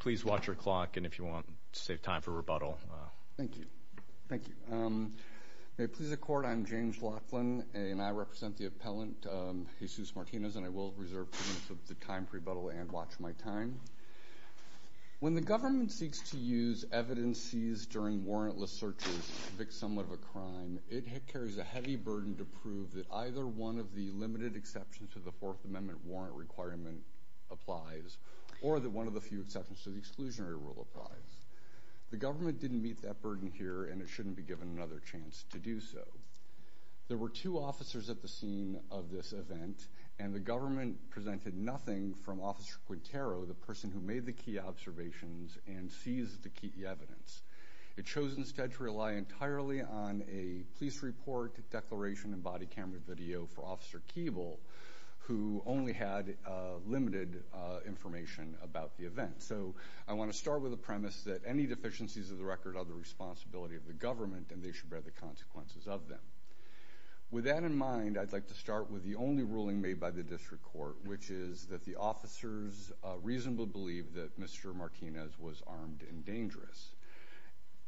Please watch your clock and if you want to save time for rebuttal. Thank you. May it please the court, I'm James Laughlin and I represent the appellant Jesus Martinez and I will reserve time for rebuttal and watch my time. When the government seeks to use evidences during warrantless searches to convict someone of a crime, it carries a heavy burden to prove that either one of the limited exceptions to the 4th Amendment warrant requirement applies or that one of the few exceptions to the exclusionary rule applies. The government didn't meet that burden here and it shouldn't be given another chance to do so. There were two officers at the scene of this event and the government presented nothing from Officer Quintero, the person who made the key observations and seized the key evidence. It chose instead to rely entirely on a police report, declaration, and body camera video for Officer Keeble, who only had limited information about the event. So I want to start with a premise that any deficiencies of the record are the responsibility of the government and they should bear the consequences of them. With that in mind, I'd like to start with the only ruling made by the district court, which is that the officers reasonably believe that Mr. Martinez was armed and dangerous.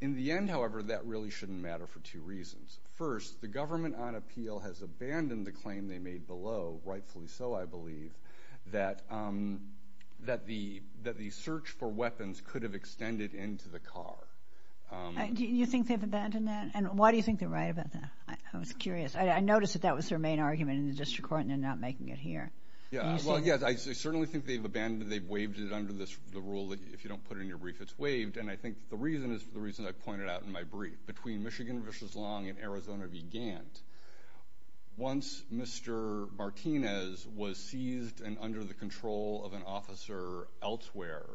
In the end, however, that really shouldn't matter for two reasons. First, the government on appeal has abandoned the claim they made below, rightfully so, I believe, that the search for weapons could have extended into the car. Do you think they've abandoned that? And why do you think they're right about that? I was curious. I noticed that that was their main argument in the district court and they're not making it here. Yeah, well, yes, I certainly think they've abandoned it. They've waived it under the rule that if you don't put in your brief, it's waived. And I think the reason is the reason I pointed out in my brief. Between Michigan v. Long and Arizona v. Gantt, once Mr. Martinez was seized and under the control of an officer elsewhere...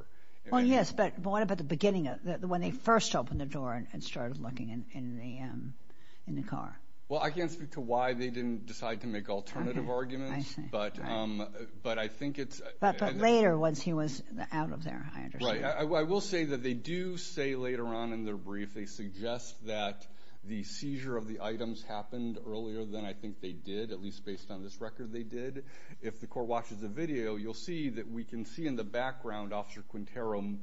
Well, yes, but what about the beginning, when they first opened the door and started looking in the car? Well, I can't speak to why they didn't decide to make alternative arguments, but I think it's... But later, once he was out of there, I understand. Right, I will say that they do say later on in their brief, they suggest that the seizure of the items happened earlier than I think they did, at least based on this record they did. If the court watches the video, you'll see that we can see in the background Officer Quintero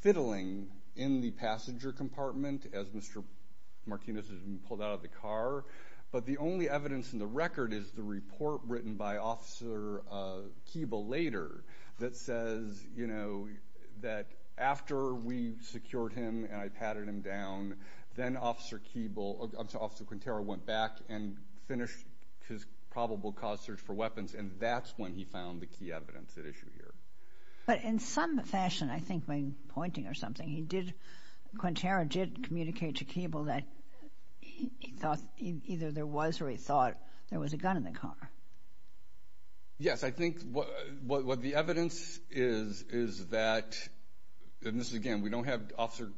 fiddling in the passenger compartment as Mr. Martinez has been pulled out of the car. But the only evidence in the record is the report written by Officer Keeble later that says that after we secured him and I patted him down, then Officer Quintero went back and finished his probable cause search for weapons, and that's when he found the key evidence at issue here. But in some fashion, I think when pointing or something, he did... Quintero did communicate to Keeble that he thought either there was or he thought there was a gun in the car. Yes, I think what the evidence is is that, and this is again, we don't have Officer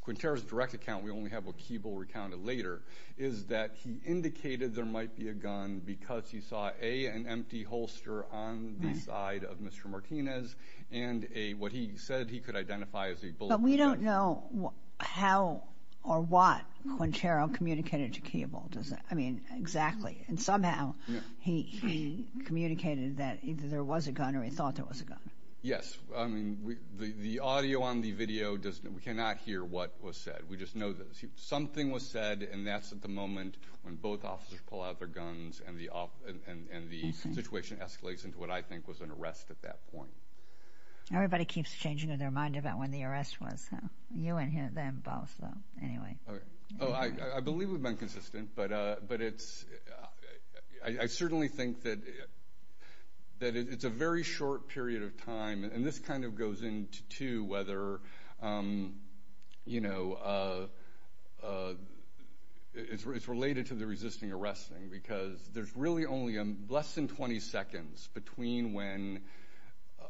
Quintero's direct account, we only have what Keeble recounted later, is that he indicated there might be a gun because he saw, A, an empty holster on the side of Mr. Martinez, and A, what he said he could identify as a bullet. But we don't know how or what Quintero communicated to Keeble. I mean, exactly. And somehow, he communicated that either there was a gun or he thought there was a gun. Yes. I mean, the audio on the video, we cannot hear what was said. We just know that something was said, and that's at the moment when both officers pull out their guns and the situation escalates into what I think was an arrest at that point. Everybody keeps changing their mind about when the arrest was. You and them both, anyway. I believe we've been consistent, but I certainly think that it's a very short period of time, and this kind of goes into whether, you know, it's related to the resisting arresting, because there's really only less than 20 seconds between when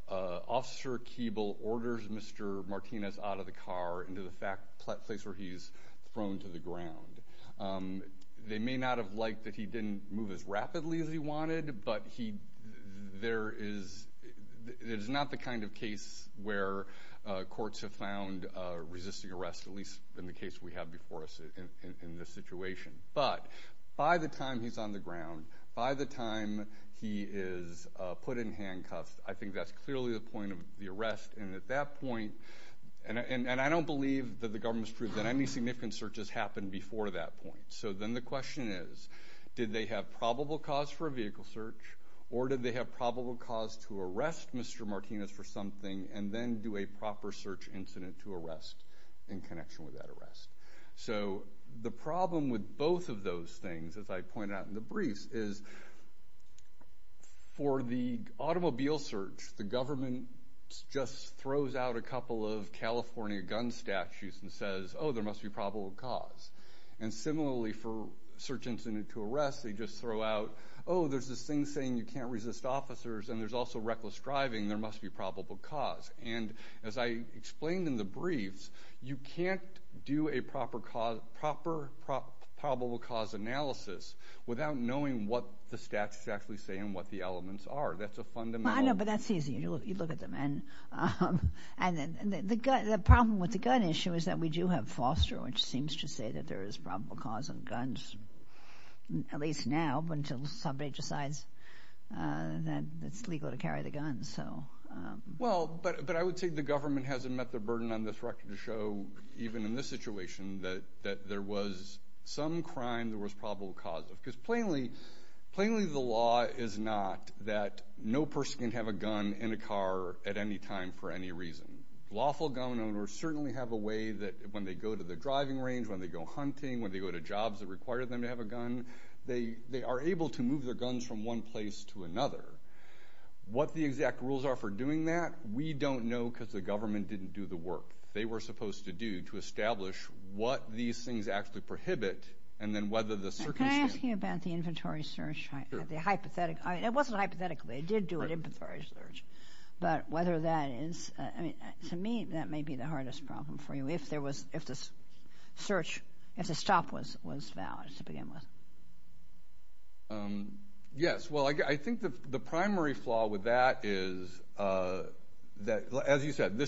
Officer Keeble orders Mr. Martinez out of the car into the place where he's thrown to the ground. They may not have liked that he didn't move as rapidly as he wanted, but there is not the kind of case where courts have found resisting arrest, at least in the case we have before us in this situation. But by the time he's on the ground, by the time he is put in handcuffs, I think that's clearly the point of the arrest, and at that point, and I don't believe that the government's proved that any significant search has happened before that point. So then the question is, did they have probable cause for a vehicle search, or did they have probable cause to arrest Mr. Martinez for something and then do a proper search incident to arrest in connection with that arrest? So the problem with both of those things, as I pointed out in the briefs, is for the automobile search, the government just throws out a couple of California gun statutes and says, oh, there must be probable cause. And similarly for search incident to arrest, they just throw out, oh, there's this thing saying you can't resist officers, and there's also reckless driving, there must be probable cause. And as I explained in the briefs, you can't do a proper probable cause analysis without knowing what the statutes actually say and what the elements are. That's a fundamental... I know, but that's easy. You look at them. And the problem with the gun issue is that we do have foster, which seems to say that there is probable cause on guns, at least now, until somebody decides that it's legal to carry the guns. Well, but I would say the government hasn't met the burden on this record to show, even in this situation, that there was some crime there was probable cause of. Because plainly, plainly the law is not that no person can have a gun in a car at any time for any reason. Lawful gun owners certainly have a way that when they go to the driving range, when they go hunting, when they go to jobs that require them to have a gun, they are able to move their guns from one place to another. What the exact rules are for doing that, we don't know because the government didn't do the work they were supposed to do to establish what these things actually prohibit, and then whether the circumstances... Can I ask you about the inventory search? It wasn't hypothetically. They did do an inventory search. But whether that is... To me, that may be the hardest problem for you, if the stop was valid to begin with. Yes. Well, I think the primary flaw with that is that, as you said,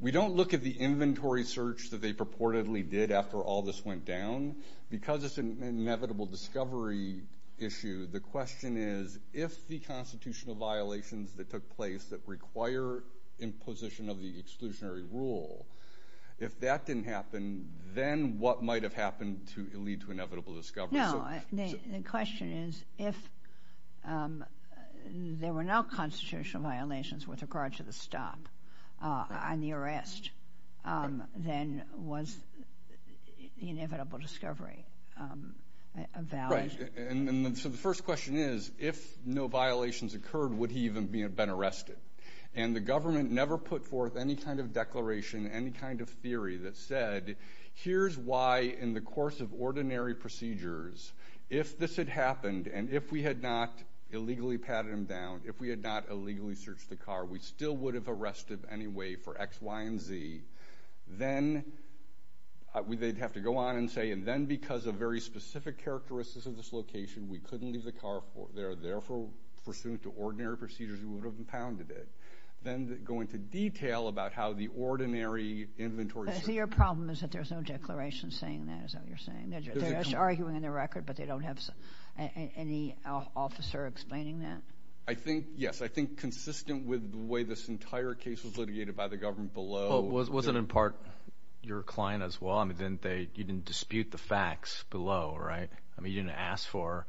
we don't look at the inventory search that they purportedly did after all this went down. Because it's an inevitable discovery issue, the question is, if the constitutional violations that took place that require imposition of the exclusionary rule, if that didn't happen, then what might have happened to lead to inevitable discovery? No. The question is, if there were no constitutional violations with regard to the stop on the arrest, then was the inevitable discovery valid? Right. And so the first question is, if no violations occurred, would he even have been arrested? And the government never put forth any kind of declaration, any kind of theory that said, here's why in the course of ordinary procedures, if this had happened, and if we had not illegally patted him down, if we had not anyway, for X, Y, and Z, then they'd have to go on and say, and then because of very specific characteristics of this location, we couldn't leave the car, therefore, pursuant to ordinary procedures, we would have impounded it. Then go into detail about how the ordinary inventory... I see your problem is that there's no declaration saying that is how you're saying. They're just arguing in the record, but they don't have any officer explaining that? I think, yes, I think consistent with the way this entire case was litigated by the government below... Was it in part your client as well? I mean, you didn't dispute the facts below, right? I mean, you didn't ask for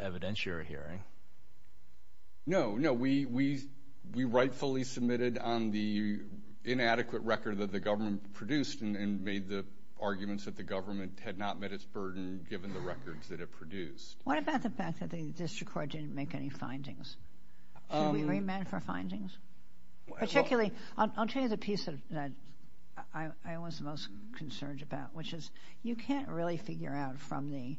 evidence you were hearing. No, no. We rightfully submitted on the inadequate record that the government produced and made the arguments that the government had not met its burden given the records that it produced. What about the fact that the district court didn't make any findings? Should we remand for findings? Particularly, I'll tell you the piece that I was most concerned about, which is you can't really figure out from the,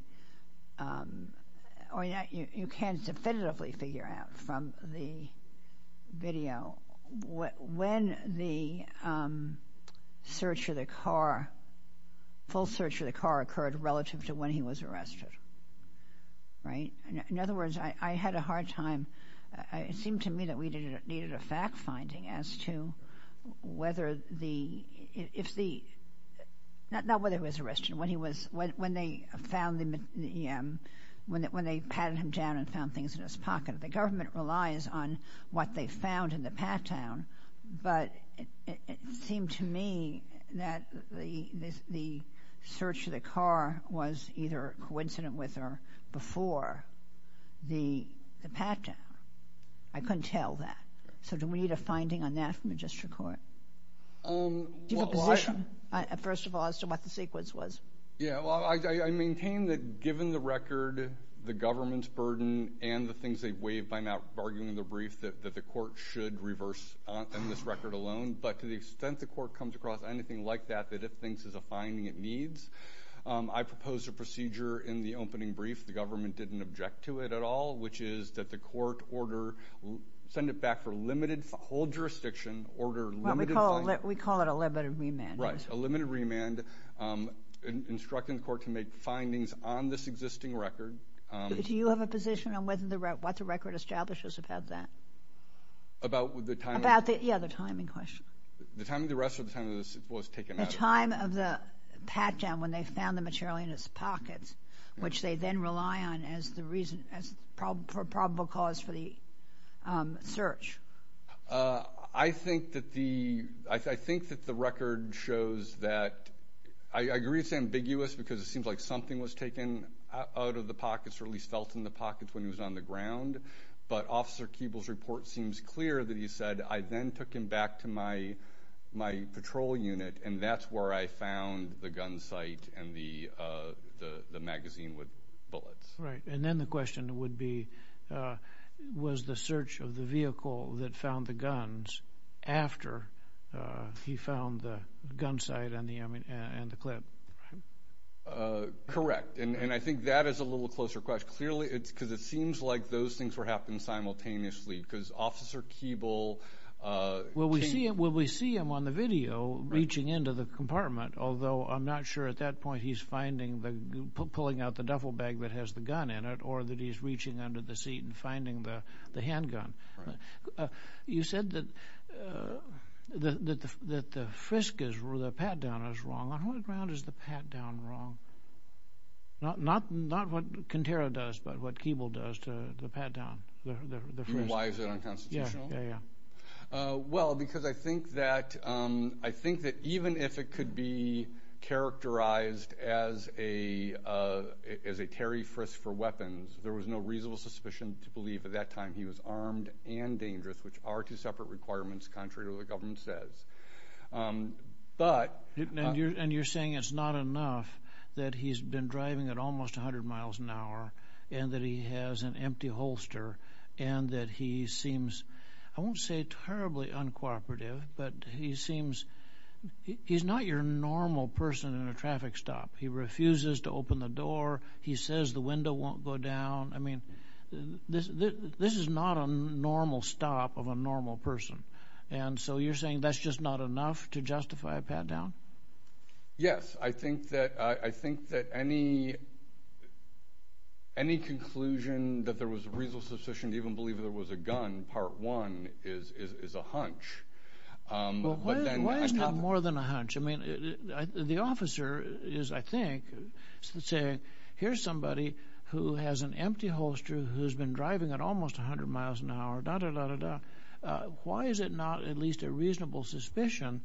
or you can definitively figure out from the video when the search of the car, full search of the car occurred relative to when he was arrested, right? In other words, I had a hard time... It seemed to me that we needed a fact-finding as to whether the... Not whether he was arrested, when he was... When they found the... When they patted him down and found things in his pocket. The government relies on what they found in the pat-down, but it seemed to me that the search of the car was either a coincident with or before the pat-down. I couldn't tell that. So do we need a finding on that from the district court? Do you have a position, first of all, as to what the sequence was? Yeah, well, I maintain that given the record, the government's burden, and the things they've waived by not arguing the brief that the court should reverse on this record alone, but to the extent the court comes across anything like that, that it thinks is a finding it needs, I proposed a procedure in the opening brief. The government didn't object to it at all, which is that the court order... Send it back for limited... Hold jurisdiction, order limited... We call it a limited remand. Right, a limited remand, instructing the court to make findings on this existing record. Do you have a position on whether what the record establishes about that? About the timing? Yeah, the timing question. The time of the arrest or the time it was taken out of? The time of the pat-down when they found the material in his pockets, which they then rely on as the reason, as probable cause for the search. I think that the I think that the record shows that... I agree it's ambiguous because it seems like something was taken out of the pockets, or at least felt in the pockets when he was on the ground, but Officer Keeble's report seems clear that he said, I then took him back to my patrol unit, and that's where I found the gun sight and the magazine with bullets. Right, and then the question would be, was the search of the vehicle that found the guns after he found the gun sight and the clip? Correct, and I think that is a little closer question. Clearly, it's because it seems like those things were happening simultaneously, because Officer Keeble... Well, we see him on the video reaching into the compartment, although I'm not sure at that point he's finding the... pulling out the duffel bag that has the gun in it, or that he's reaching under the seat and Not what Kintero does, but what Keeble does to the pat-down. Why is it unconstitutional? Well, because I think that even if it could be characterized as a Terry frisk for weapons, there was no reasonable suspicion to believe at that time he was armed and dangerous, which are two separate requirements, contrary to what the government says. But... And you're saying it's not enough that he's been driving at almost 100 miles an hour, and that he has an empty holster, and that he seems, I won't say terribly uncooperative, but he seems... He's not your normal person in a traffic stop. He refuses to open the door. He says the window won't go down. I mean, this is not a normal stop of a normal person, and so you're saying that's just not enough to justify a pat-down? Yes. I think that any conclusion that there was a reasonable suspicion to even believe there was a gun, part one, is a hunch. But then... Well, why is that more than a hunch? I mean, the officer is, I think, saying, here's somebody who has an empty holster, who's been driving at almost 100 miles an hour, why is it not at least a reasonable suspicion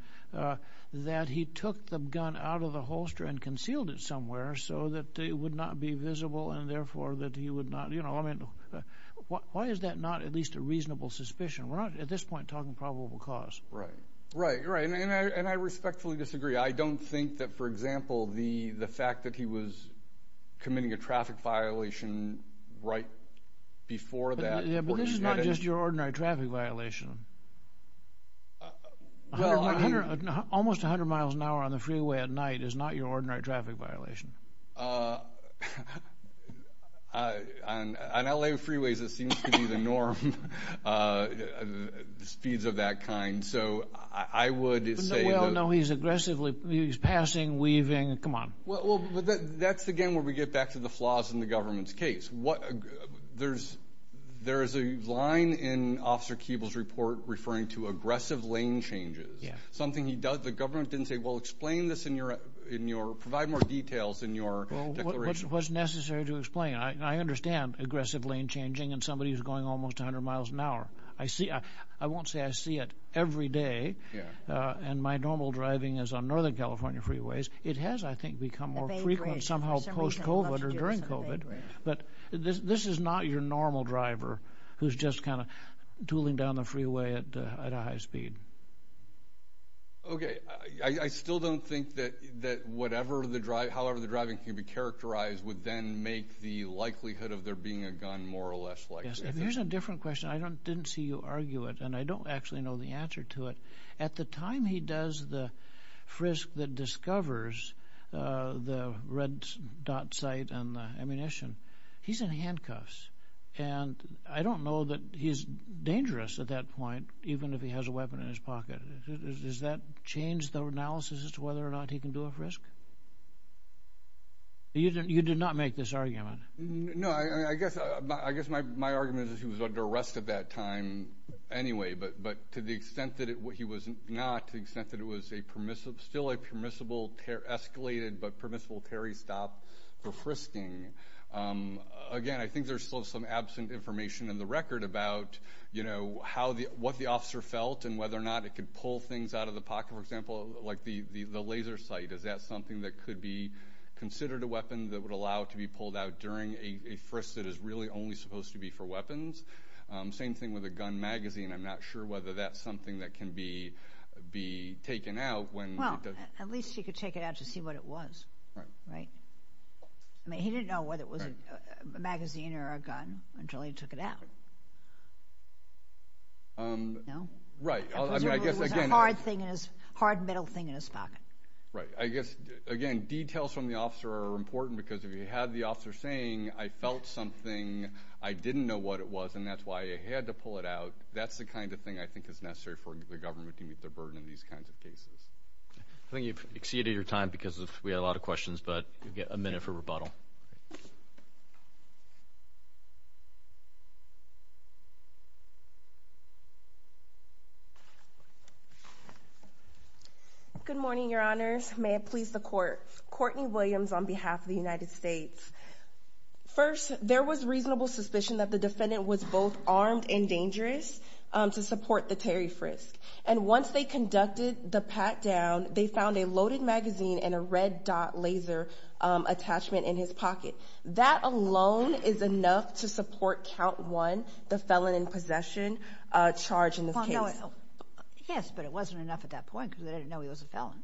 that he took the gun out of the holster and concealed it somewhere so that it would not be visible, and therefore that he would not... You know, I mean, why is that not at least a reasonable suspicion? We're not, at this point, talking probable cause. Right. Right. Right. And I respectfully disagree. I don't think that, for example, the fact that he was committing a traffic violation right before that... But this is not just your ordinary traffic violation. Well, I... Almost 100 miles an hour on the freeway at night is not your ordinary traffic violation. On L.A. freeways, it seems to be the norm, speeds of that kind, so I would say... Well, no, he's aggressively... He's passing, weaving, come on. Well, that's, again, where we get back to the flaws in the government's case. There's a line in Officer Keeble's report referring to aggressive lane changes, something he does... The government didn't say, well, explain this in your... Provide more details in your declaration. Well, what's necessary to explain? I understand aggressive lane changing and somebody who's going almost 100 miles an hour. I won't say I see it every day, and my normal driving is on Northern California freeways. It has, I think, become more frequent somehow post-COVID or during COVID, but this is not your normal driver who's just tooling down the freeway at a high speed. Okay. I still don't think that however the driving can be characterized would then make the likelihood of there being a gun more or less likely. If there's a different question, I didn't see you argue it, and I don't actually know the answer to it. At the time he does the frisk that discovers the red dot sight and the ammunition, he's in handcuffs. I don't know that he's dangerous at that point, even if he has a weapon in his pocket. Does that change the analysis as to whether or not he can do a frisk? You did not make this argument. No. I guess my argument is he was under arrest at that time anyway, but to the extent that he was not, to the extent that it was still a permissible escalated but permissible carry stop for frisking. Again, I think there's still some absent information in the record about what the officer felt and whether or not it could pull things out of the pocket. For example, the laser sight, is that something that could be considered a weapon that would allow it to be pulled out during a frisk that is really only supposed to be for weapons? Same thing with a gun magazine. I'm not sure whether that's something that can be taken out when- Well, at least he could take it out to see what it was. He didn't know whether it was a magazine or a gun until he took it out. No? Presumably it was a hard metal thing in his pocket. Right. I guess, again, details from the officer are important because if you had the officer saying, I felt something, I didn't know what it was and that's why I had to pull it out, that's the kind of thing I think is necessary for the government to meet their burden in these kinds of cases. I think you've exceeded your time because we had a lot of questions, but you get a minute for rebuttal. Good morning, your honors. May it please the court. Courtney Williams on behalf of the United States. First, there was reasonable suspicion that the defendant was both armed and dangerous to support the Terry frisk. Once they conducted the pat down, they found a loaded magazine and a red dot laser attachment in his pocket. That alone is enough to support count one, the felon in possession charge in this case. Yes, but it wasn't enough at that point because they didn't know he was a felon.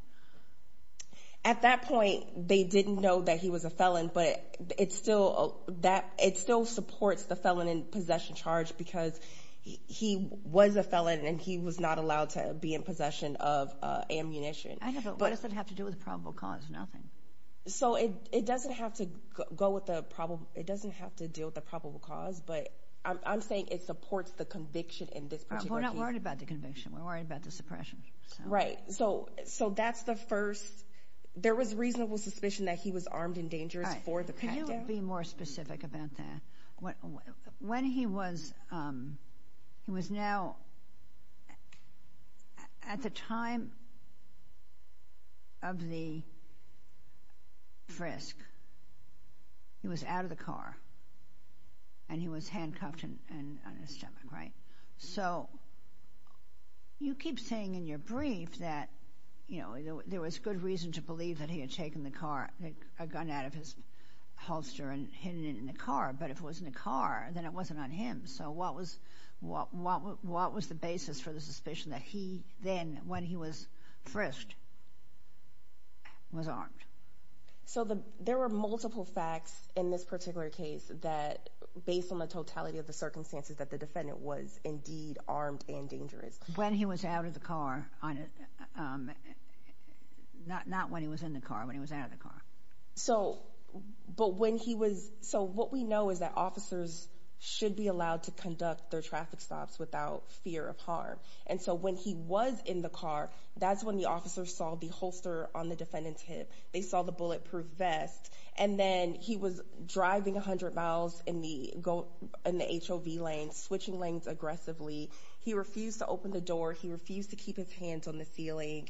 At that point, they didn't know that he was a felon, but it still supports the felon in possession charge because he was a felon and he was not allowed to be in possession of ammunition. I know, but what does that have to do with probable cause? Nothing. So, it doesn't have to deal with the probable cause, but I'm saying it supports the conviction in this particular case. We're not worried about the conviction. We're worried about the suppression. Right. So, that's the first. There was reasonable suspicion that he was armed and dangerous for the pat down. Can you be more specific about that? When he was, he was now, at the time of the frisk, he was out of the car and he was handcuffed on his stomach, right? So, you keep saying in your brief that, you know, there was good reason to believe that he had taken the car, a gun out of his holster and hidden it in the car, but if it was in the car, then it wasn't on him. So, what was the basis for the suspicion that he then, when he was frisked, was armed? So, there were multiple facts in this particular case that, based on the totality of the evidence, that he was armed and dangerous. When he was out of the car, not when he was in the car, but when he was out of the car. So, but when he was, so what we know is that officers should be allowed to conduct their traffic stops without fear of harm. And so, when he was in the car, that's when the officers saw the holster on the defendant's hip. They saw the bulletproof vest. And then, he was driving 100 miles in the HOV lane, switching lanes aggressively. He refused to open the door. He refused to keep his hands on the ceiling.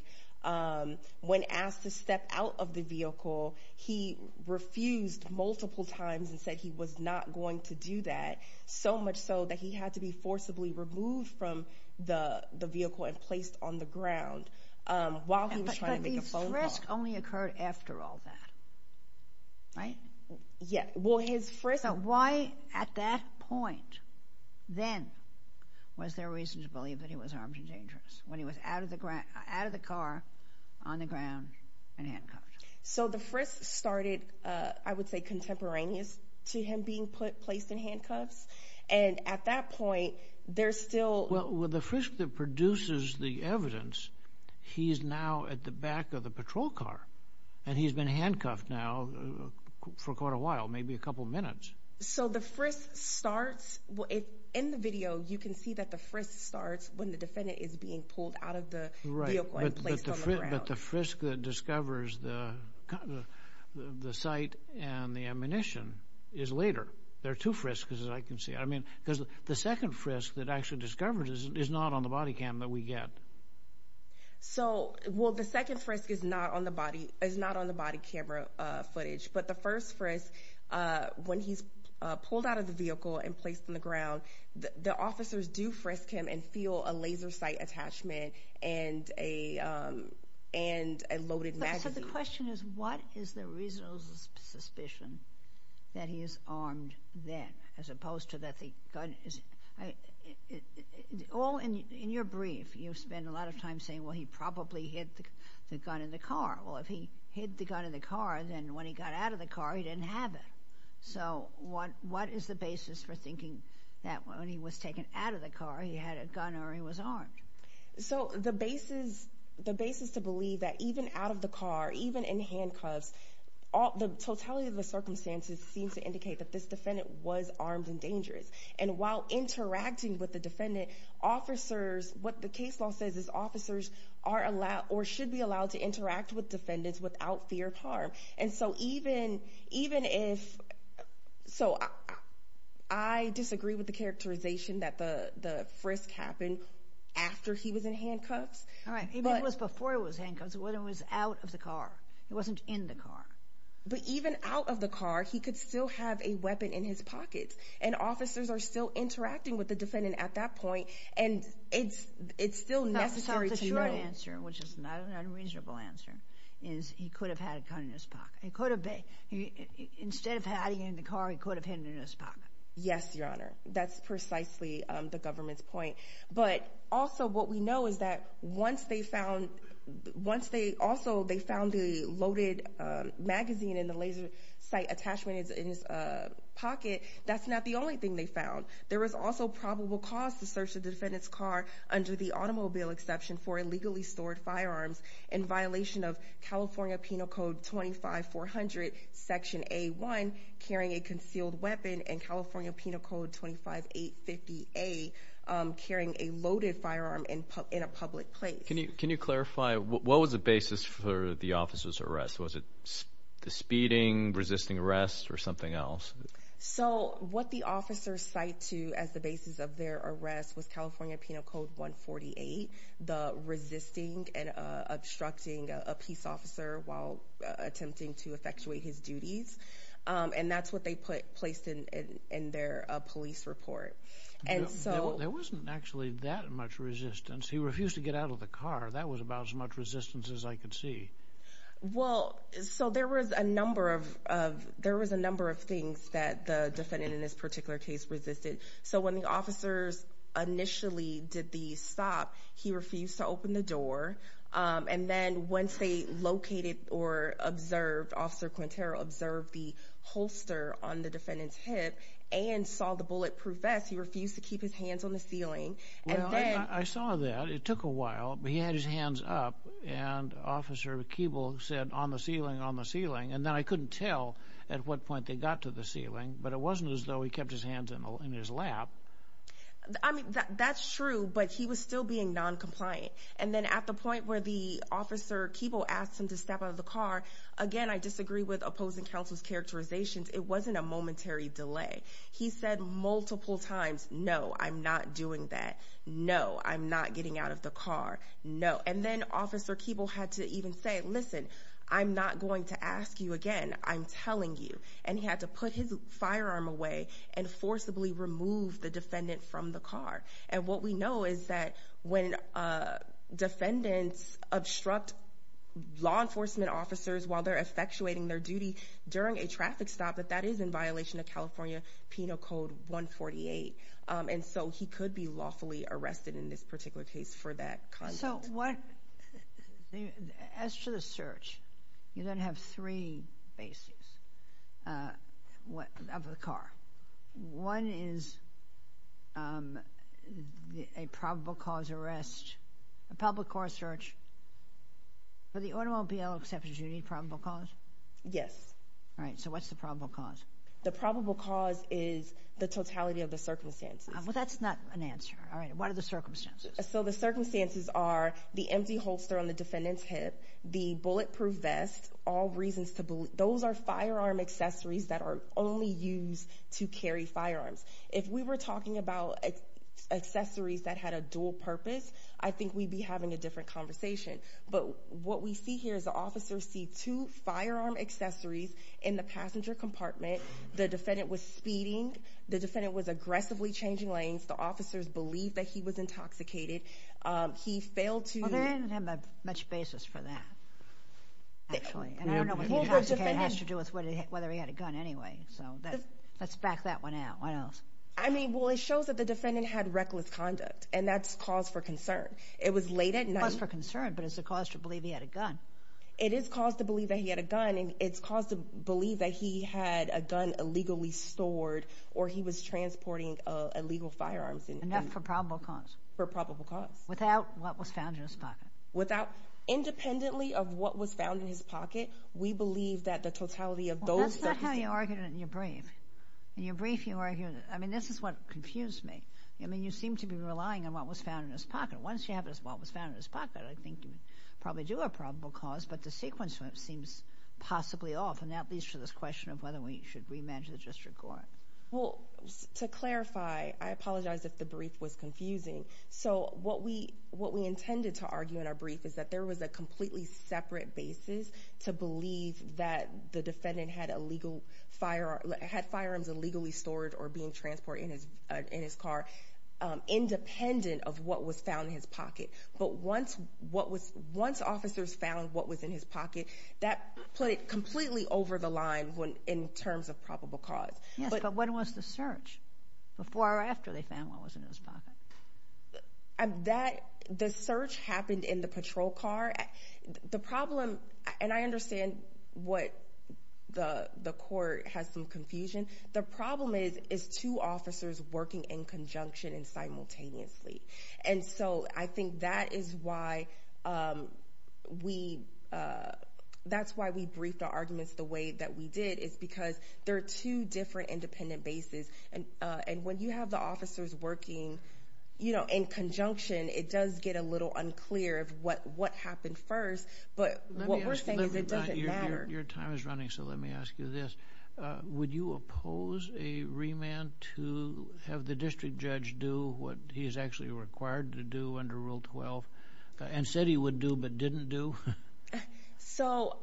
When asked to step out of the vehicle, he refused multiple times and said he was not going to do that, so much so that he had to be forcibly removed from the vehicle and placed on the ground while he was trying to make a phone call. But the frisk only occurred after all that, right? Yeah. Well, his frisk... So, why, at that point, then, was there reason to believe that he was armed and dangerous, when he was out of the car, on the ground, and handcuffed? So, the frisk started, I would say, contemporaneous to him being placed in handcuffs. And at that point, there's still... Well, with the frisk that produces the evidence, he's now at the back of the patrol car, and he's been handcuffed now for quite a while, maybe a couple minutes. So, the frisk starts... In the video, you can see that the frisk starts when the defendant is being pulled out of the vehicle and placed on the ground. But the frisk that discovers the sight and the ammunition is later. There are two frisks, as I can see. I mean, because the second frisk that actually discovers is not on the body cam that we get. So, well, the second frisk is not on the body camera footage. But the first frisk, when he's pulled out of the vehicle and placed on the ground, the officers do frisk him and feel a laser sight attachment and a loaded magazine. So, the question is, what is the reasonable suspicion that he is armed then, as opposed to the gun? In your brief, you spend a lot of time saying, well, he probably hid the gun in the car. Well, if he hid the gun in the car, then when he got out of the car, he didn't have it. So, what is the basis for thinking that when he was taken out of the car, he had a gun or he was armed? So, the basis to believe that even out of the car, even in handcuffs, the totality of the And while interacting with the defendant, officers, what the case law says is officers are allowed or should be allowed to interact with defendants without fear of harm. And so, even if... So, I disagree with the characterization that the frisk happened after he was in handcuffs. All right. Even if it was before he was handcuffed, when he was out of the car. He wasn't in the car. But even out of the car, he could still have a weapon in his pocket. And officers are still interacting with the defendant at that point. And it's still necessary to know. The short answer, which is not an unreasonable answer, is he could have had a gun in his pocket. He could have been... Instead of hiding it in the car, he could have hidden it in his pocket. Yes, Your Honor. That's precisely the government's point. But also, what we know is that once they found... Once they... Also, they found the loaded magazine in the laser sight attachment in his pocket. That's not the only thing they found. There was also probable cause to search the defendant's car under the automobile exception for illegally stored firearms in violation of California Penal Code 25-400, Section A-1, carrying a concealed weapon, and California Penal Code 25-850-A, carrying a loaded firearm in a public place. What was the basis for the officer's arrest? Was it the speeding, resisting arrest, or something else? So, what the officers cite to as the basis of their arrest was California Penal Code 148, the resisting and obstructing a peace officer while attempting to effectuate his duties. And that's what they put placed in their police report. And so... There wasn't actually that much resistance. He refused to get out of the car. That was about as much resistance as I could see. Well, so there was a number of things that the defendant in this particular case resisted. So, when the officers initially did the stop, he refused to open the door. And then once they located or observed, Officer Quintero observed the holster on the defendant's hip and saw the bulletproof vest, he refused to keep his hands on the ceiling. And then... I saw that. It took a while, but he had his hands up. And Officer Keeble said, on the ceiling, on the ceiling. And then I couldn't tell at what point they got to the ceiling, but it wasn't as though he kept his hands in his lap. I mean, that's true, but he was still being noncompliant. And then at the point where the Officer Keeble asked him to step out of the car, again, I disagree with opposing counsel's characterizations. It wasn't a momentary delay. He said multiple times, no, I'm not doing that. No, I'm not getting out of the car. No. And then Officer Keeble had to even say, listen, I'm not going to ask you again. I'm telling you. And he had to put his firearm away and forcibly remove the defendant from the car. And what we know is that when defendants obstruct law enforcement officers while they're effectuating their duty during a traffic stop, that that is in violation of California Penal Code 148. And so he could be lawfully arrested in this particular case for that content. So as to the search, you're going to have three bases of the car. One is a probable cause arrest, a public court search. For the automobile exceptions, do you need probable cause? Yes. All right. So what's the probable cause? The probable cause is the totality of the circumstances. Well, that's not an answer. All right. What are the circumstances? So the circumstances are the empty holster on the defendant's hip, the bulletproof vest, all reasons to believe those are firearm accessories that are only used to carry firearms. If we were talking about accessories that had a dual purpose, I think we'd be having a different conversation. But what we see here is the officers see two firearm accessories in the passenger compartment. The defendant was speeding. The defendant was aggressively changing lanes. The officers believe that he was intoxicated. He failed to- Well, they didn't have much basis for that, actually. And I don't know what he intoxicated has to do with whether he had a gun anyway. So let's back that one out. What else? I mean, well, it shows that the defendant had reckless conduct. And that's cause for concern. It was late at night- Cause for concern, but it's a cause to believe he had a gun. It is cause to believe that he had a gun. And it's cause to believe that he had a gun illegally stored or he was transporting illegal firearms in- Enough for probable cause. For probable cause. Without what was found in his pocket. Without- independently of what was found in his pocket, we believe that the totality of those- Well, that's not how you argued it in your brief. In your brief, you argued it- I mean, this is what confused me. I mean, you seem to be relying on what was found in his pocket. Once you have what was found in his pocket, I think you would probably do a probable cause. But the sequence seems possibly off. And that leads to this question of whether we should re-manage the district court. Well, to clarify, I apologize if the brief was confusing. So what we intended to argue in our brief is that there was a completely separate basis to believe that the defendant had firearms illegally stored or being transported in his car independent of what was found in his pocket. But once officers found what was in his pocket, that put it completely over the line in terms of probable cause. But when was the search? Before or after they found what was in his pocket? The search happened in the patrol car. The problem- and I understand what the court has some confusion. The problem is two officers working in conjunction and simultaneously. And so I think that is why we- that's why we briefed our arguments the way that we did is because there are two different independent bases. And when you have the officers working, you know, in conjunction, it does get a little unclear of what happened first. But what we're saying is it doesn't matter. Your time is running, so let me ask you this. Would you oppose a re-man to have the district judge do what he is actually required to do under Rule 12 and said he would do but didn't do? So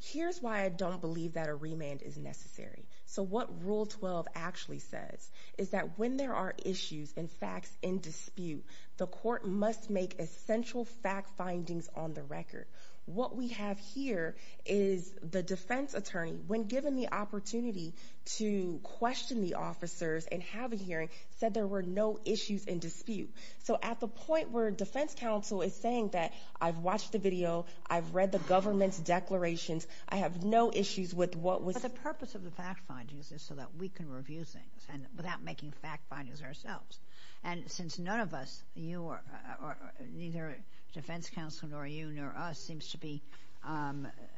here's why I don't believe that a re-man is necessary. So what Rule 12 actually says is that when there are issues and facts in dispute, the court must make essential fact findings on the record. What we have here is the defense attorney, when given the opportunity to question the officers and have a hearing, said there were no issues in dispute. So at the point where defense counsel is saying that I've watched the video, I've read the government's declarations, I have no issues with what was- But the purpose of the fact findings is so that we can review things without making fact findings ourselves. And since none of us, you or- neither defense counsel nor you nor us seems to be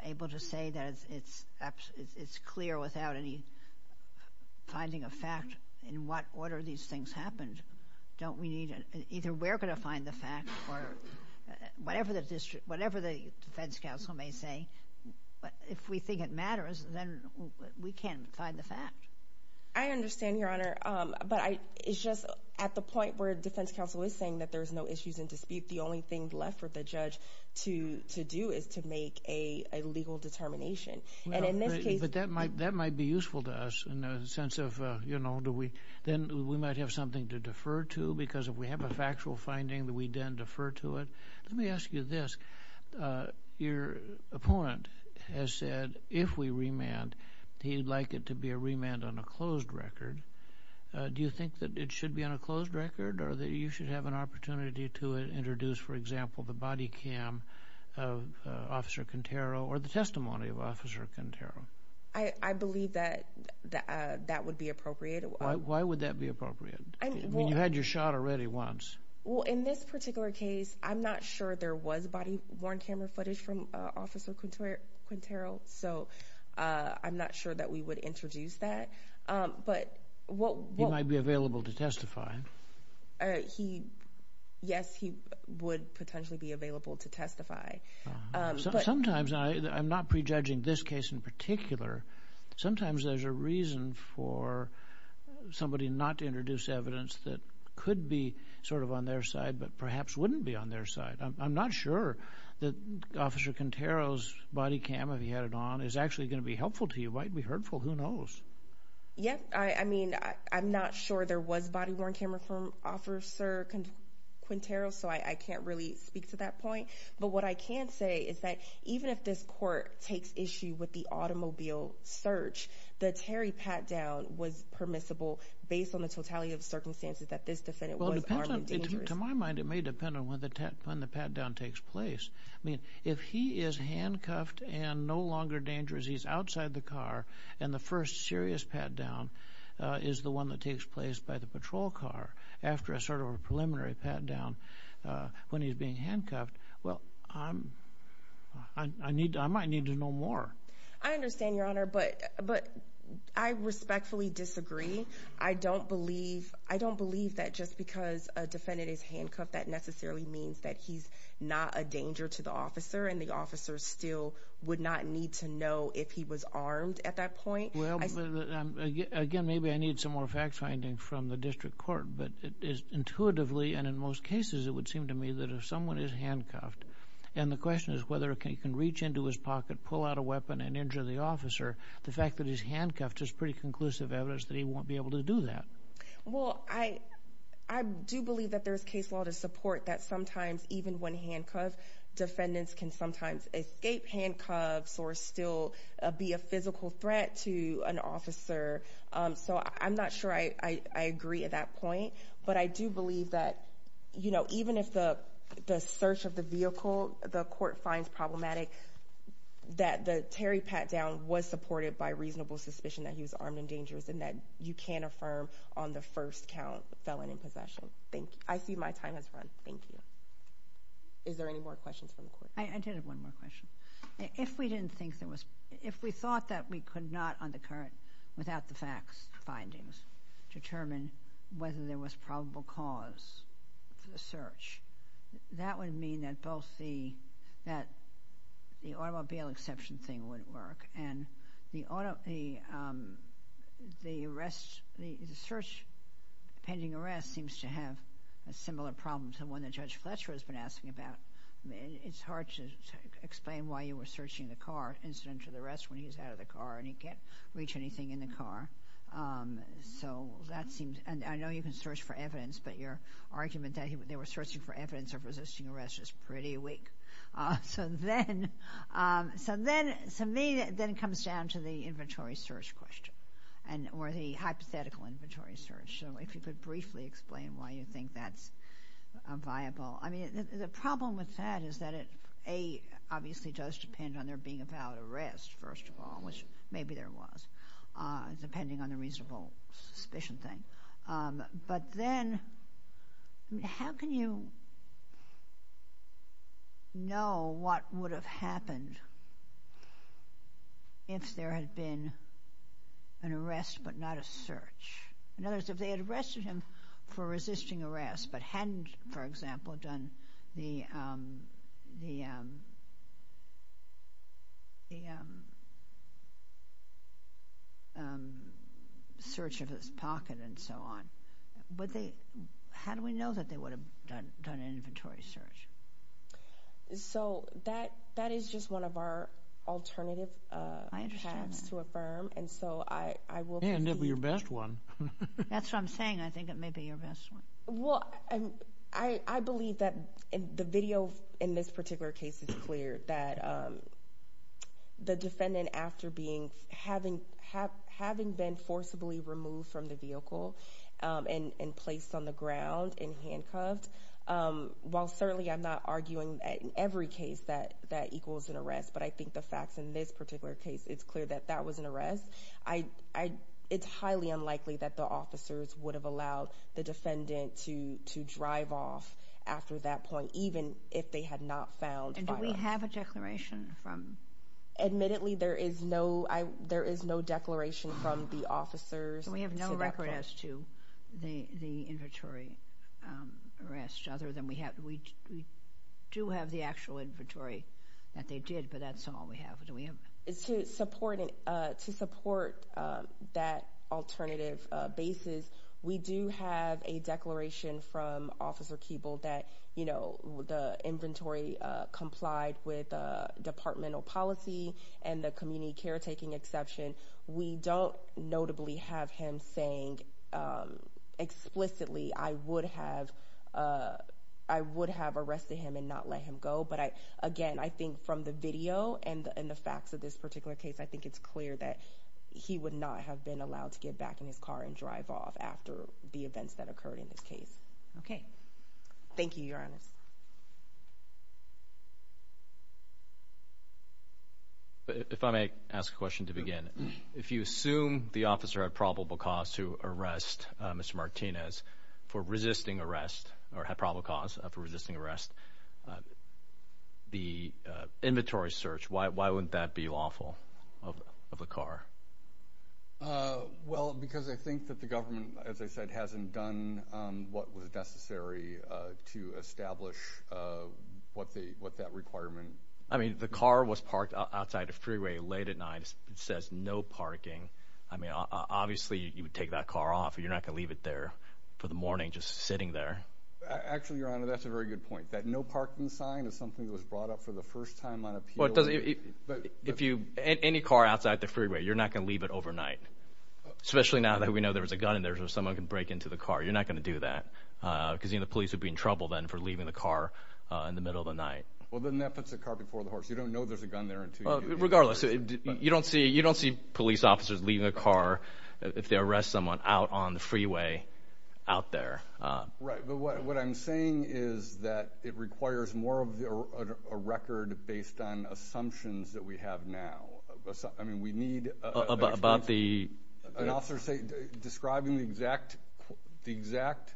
able to say that it's clear without any finding of fact in what order these things happened, don't we need- either we're going to find the fact or whatever the district- whatever the defense counsel may say, if we think it matters, then we can find the fact. I understand, Your Honor, but I- it's just at the point where defense counsel is saying that there's no issues in dispute, the only thing left for the judge to do is to make a legal determination. And in this case- But that might be useful to us in the sense of, you know, do we- do we have something to defer to? Because if we have a factual finding that we then defer to it? Let me ask you this. Your opponent has said, if we remand, he'd like it to be a remand on a closed record. Do you think that it should be on a closed record? Or that you should have an opportunity to introduce, for example, the body cam of Officer Contero or the testimony of Officer Contero? I believe that that would be appropriate. Why would that be appropriate? You had your shot already once. Well, in this particular case, I'm not sure there was body-worn camera footage from Officer Contero, so I'm not sure that we would introduce that. But what- He might be available to testify. He- yes, he would potentially be available to testify. Sometimes I- I'm not prejudging this case in particular. Sometimes there's a reason for somebody not to introduce evidence that could be sort of on their side, but perhaps wouldn't be on their side. I'm not sure that Officer Contero's body cam, if he had it on, is actually going to be helpful to you. Might be hurtful, who knows? Yeah, I mean, I'm not sure there was body-worn camera from Officer Contero, so I can't really speak to that point. But what I can say is that even if this court takes issue with the automobile search, the Terry pat-down was permissible based on the totality of circumstances that this defendant was armed and dangerous. To my mind, it may depend on when the pat-down takes place. I mean, if he is handcuffed and no longer dangerous, he's outside the car, and the first serious pat-down is the one that takes place by the patrol car after a sort of a preliminary pat-down when he's being handcuffed, I might need to know more. I understand, Your Honor, but I respectfully disagree. I don't believe that just because a defendant is handcuffed, that necessarily means that he's not a danger to the officer, and the officer still would not need to know if he was armed at that point. Again, maybe I need some more fact-finding from the district court, but intuitively, and in most cases, it would seem to me that if someone is handcuffed, and the question is whether he can reach into his pocket, pull out a weapon, and injure the officer, the fact that he's handcuffed is pretty conclusive evidence that he won't be able to do that. Well, I do believe that there's case law to support that sometimes, even when handcuffed, defendants can sometimes escape handcuffs or still be a physical threat to an officer, so I'm not sure I agree at that point, but I do believe that, you know, even if the search of the vehicle, the court finds problematic, that the terry pat down was supported by reasonable suspicion that he was armed and dangerous, and that you can affirm on the first count, felon in possession. Thank you. I see my time has run. Thank you. Is there any more questions from the court? I did have one more question. If we didn't think there was— if we thought that we could not, on the current, without the facts, findings, determine whether there was probable cause for the search, that would mean that both the— that the automobile exception thing wouldn't work, and the search pending arrest seems to have a similar problem to one that Judge Fletcher has been asking about. It's hard to explain why you were searching the car, incident to the arrest, when he's out of the car and he can't reach anything in the car. So that seems— and I know you can search for evidence, but your argument that they were searching for evidence of resisting arrest is pretty weak. So then—so then, to me, then it comes down to the inventory search question, and—or the hypothetical inventory search. So if you could briefly explain why you think that's viable. I mean, the problem with that is that it, A, obviously does depend on there being a valid arrest, first of all, which maybe there was, depending on the reasonable suspicion thing. But then, how can you know what would have happened if there had been an arrest but not a search? In other words, if they had arrested him for resisting arrest but hadn't, for example, done the search of his pocket and so on, would they—how do we know that they would have done an inventory search? So that—that is just one of our alternative paths to affirm, and so I will— It may end up being your best one. That's what I'm saying. I think it may be your best one. Well, I believe that the video in this particular case is clear, that the defendant, after being—having been forcibly removed from the vehicle and placed on the ground and handcuffed, while certainly I'm not arguing that in every case that that equals an arrest, but I think the facts in this particular case, it's clear that that was an arrest, I—it's highly unlikely that the officers would have allowed the defendant to drive off after that point, even if they had not found— And do we have a declaration from— Admittedly, there is no—there is no declaration from the officers— We have no record as to the inventory arrest, other than we have—we do have the actual inventory that they did, but that's all we have. Do we have— Supporting—to support that alternative basis, we do have a declaration from Officer Keeble that, you know, the inventory complied with departmental policy and the community caretaking exception. We don't notably have him saying explicitly, I would have—I would have arrested him and not let him go, but I—again, I think from the video and the facts of this particular case, I think it's clear that he would not have been allowed to get back in his car and drive off after the events that occurred in this case. Okay. Thank you, Your Honors. If I may ask a question to begin, if you assume the officer had probable cause to arrest Mr. Martinez for resisting arrest, or had probable cause for resisting arrest, the inventory search, why wouldn't that be lawful of the car? Well, because I think that the government, as I said, hasn't done what was necessary to establish what the—what that requirement— I mean, the car was parked outside a freeway late at night. It says no parking. I mean, obviously, you would take that car off. You're not going to leave it there for the morning just sitting there. Actually, Your Honor, that's a very good point. That no parking sign is something that was brought up for the first time on appeal— Well, it doesn't—if you—any car outside the freeway, you're not going to leave it overnight, especially now that we know there was a gun in there, so someone can break into the car. You're not going to do that because, you know, the police would be in trouble then for leaving the car in the middle of the night. Well, then that puts the car before the horse. You don't know there's a gun there until— Regardless, you don't see—you don't see police officers leaving a car if they arrest someone out on the freeway out there. Right, but what I'm saying is that it requires more of a record based on assumptions that we have now. I mean, we need— About the— An officer describing the exact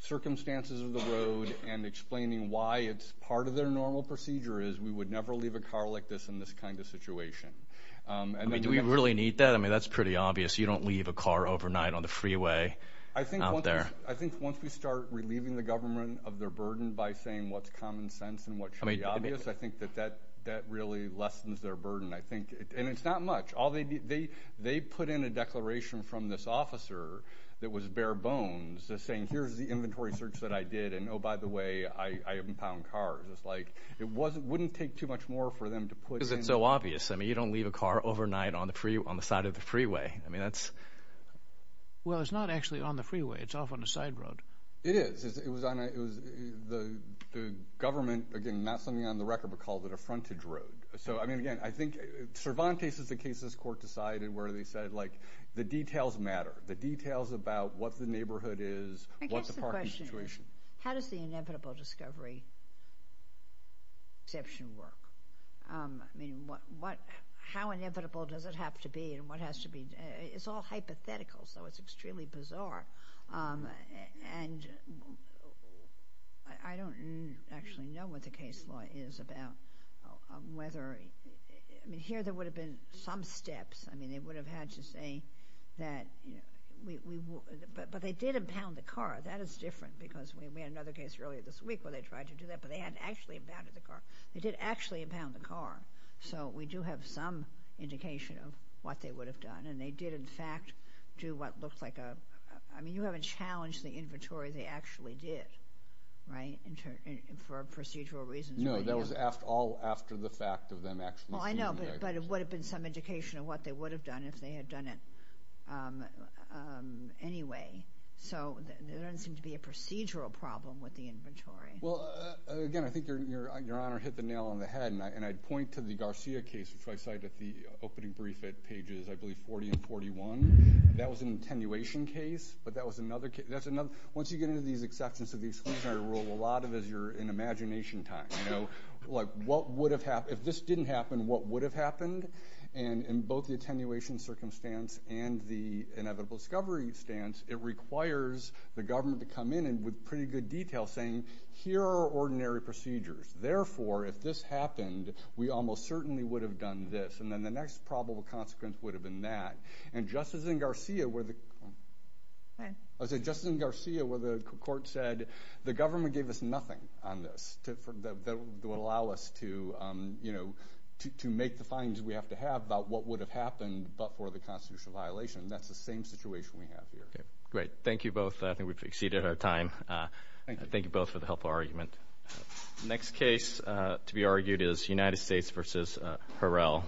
circumstances of the road and explaining why it's part of their normal procedure is we would never leave a car like this in this kind of situation. I mean, do we really need that? I mean, that's pretty obvious. You don't leave a car overnight on the freeway out there. I think once we start relieving the government of their burden by saying what's common sense and what should be obvious, I think that that really lessens their burden, I think. And it's not much. They put in a declaration from this officer that was bare bones, saying here's the inventory search that I did, and oh, by the way, I haven't found cars. It's like it wouldn't take too much more for them to put in— Because it's so obvious. I mean, you don't leave a car overnight on the side of the freeway. I mean, that's— Well, it's not actually on the freeway. It's off on a side road. It is. The government, again, not something on the record, but called it a frontage road. So, I mean, again, I think Cervantes is the case this court decided where they said, like, the details matter. The details about what the neighborhood is, what's the parking situation. How does the inevitable discovery exception work? I mean, how inevitable does it have to be and what has to be? It's all hypothetical, so it's extremely bizarre. And I don't actually know what the case law is about whether— I mean, here there would have been some steps. I mean, they would have had to say that, you know, but they did impound the car. That is different because we had another case earlier this week where they tried to do that, but they hadn't actually impounded the car. They did actually impound the car. So we do have some indication of what they would have done, and they did, in fact, do what looks like a— I mean, you haven't challenged the inventory. They actually did, right, for procedural reasons. No, that was all after the fact of them actually— Well, I know, but it would have been some indication of what they would have done if they had done it anyway. So there doesn't seem to be a procedural problem with the inventory. Well, again, I think Your Honor hit the nail on the head, and I'd point to the Garcia case, which I cite at the opening brief at pages, I believe, 40 and 41. That was an attenuation case, but that was another— Once you get into these exceptions to the exclusionary rule, a lot of it is you're in imagination time, you know? Like, what would have— If this didn't happen, what would have happened? And in both the attenuation circumstance and the inevitable discovery stance, it requires the government to come in with pretty good detail saying, here are ordinary procedures. Therefore, if this happened, we almost certainly would have done this, and then the next probable consequence would have been that. And just as in Garcia, where the court said, the government gave us nothing on this that would allow us to, you know, to make the findings we have to have about what would have happened but for the constitutional violation. That's the same situation we have here. Great. Thank you both. I think we've exceeded our time. Thank you both for the helpful argument. Next case to be argued is United States v. Harrell. Thank you.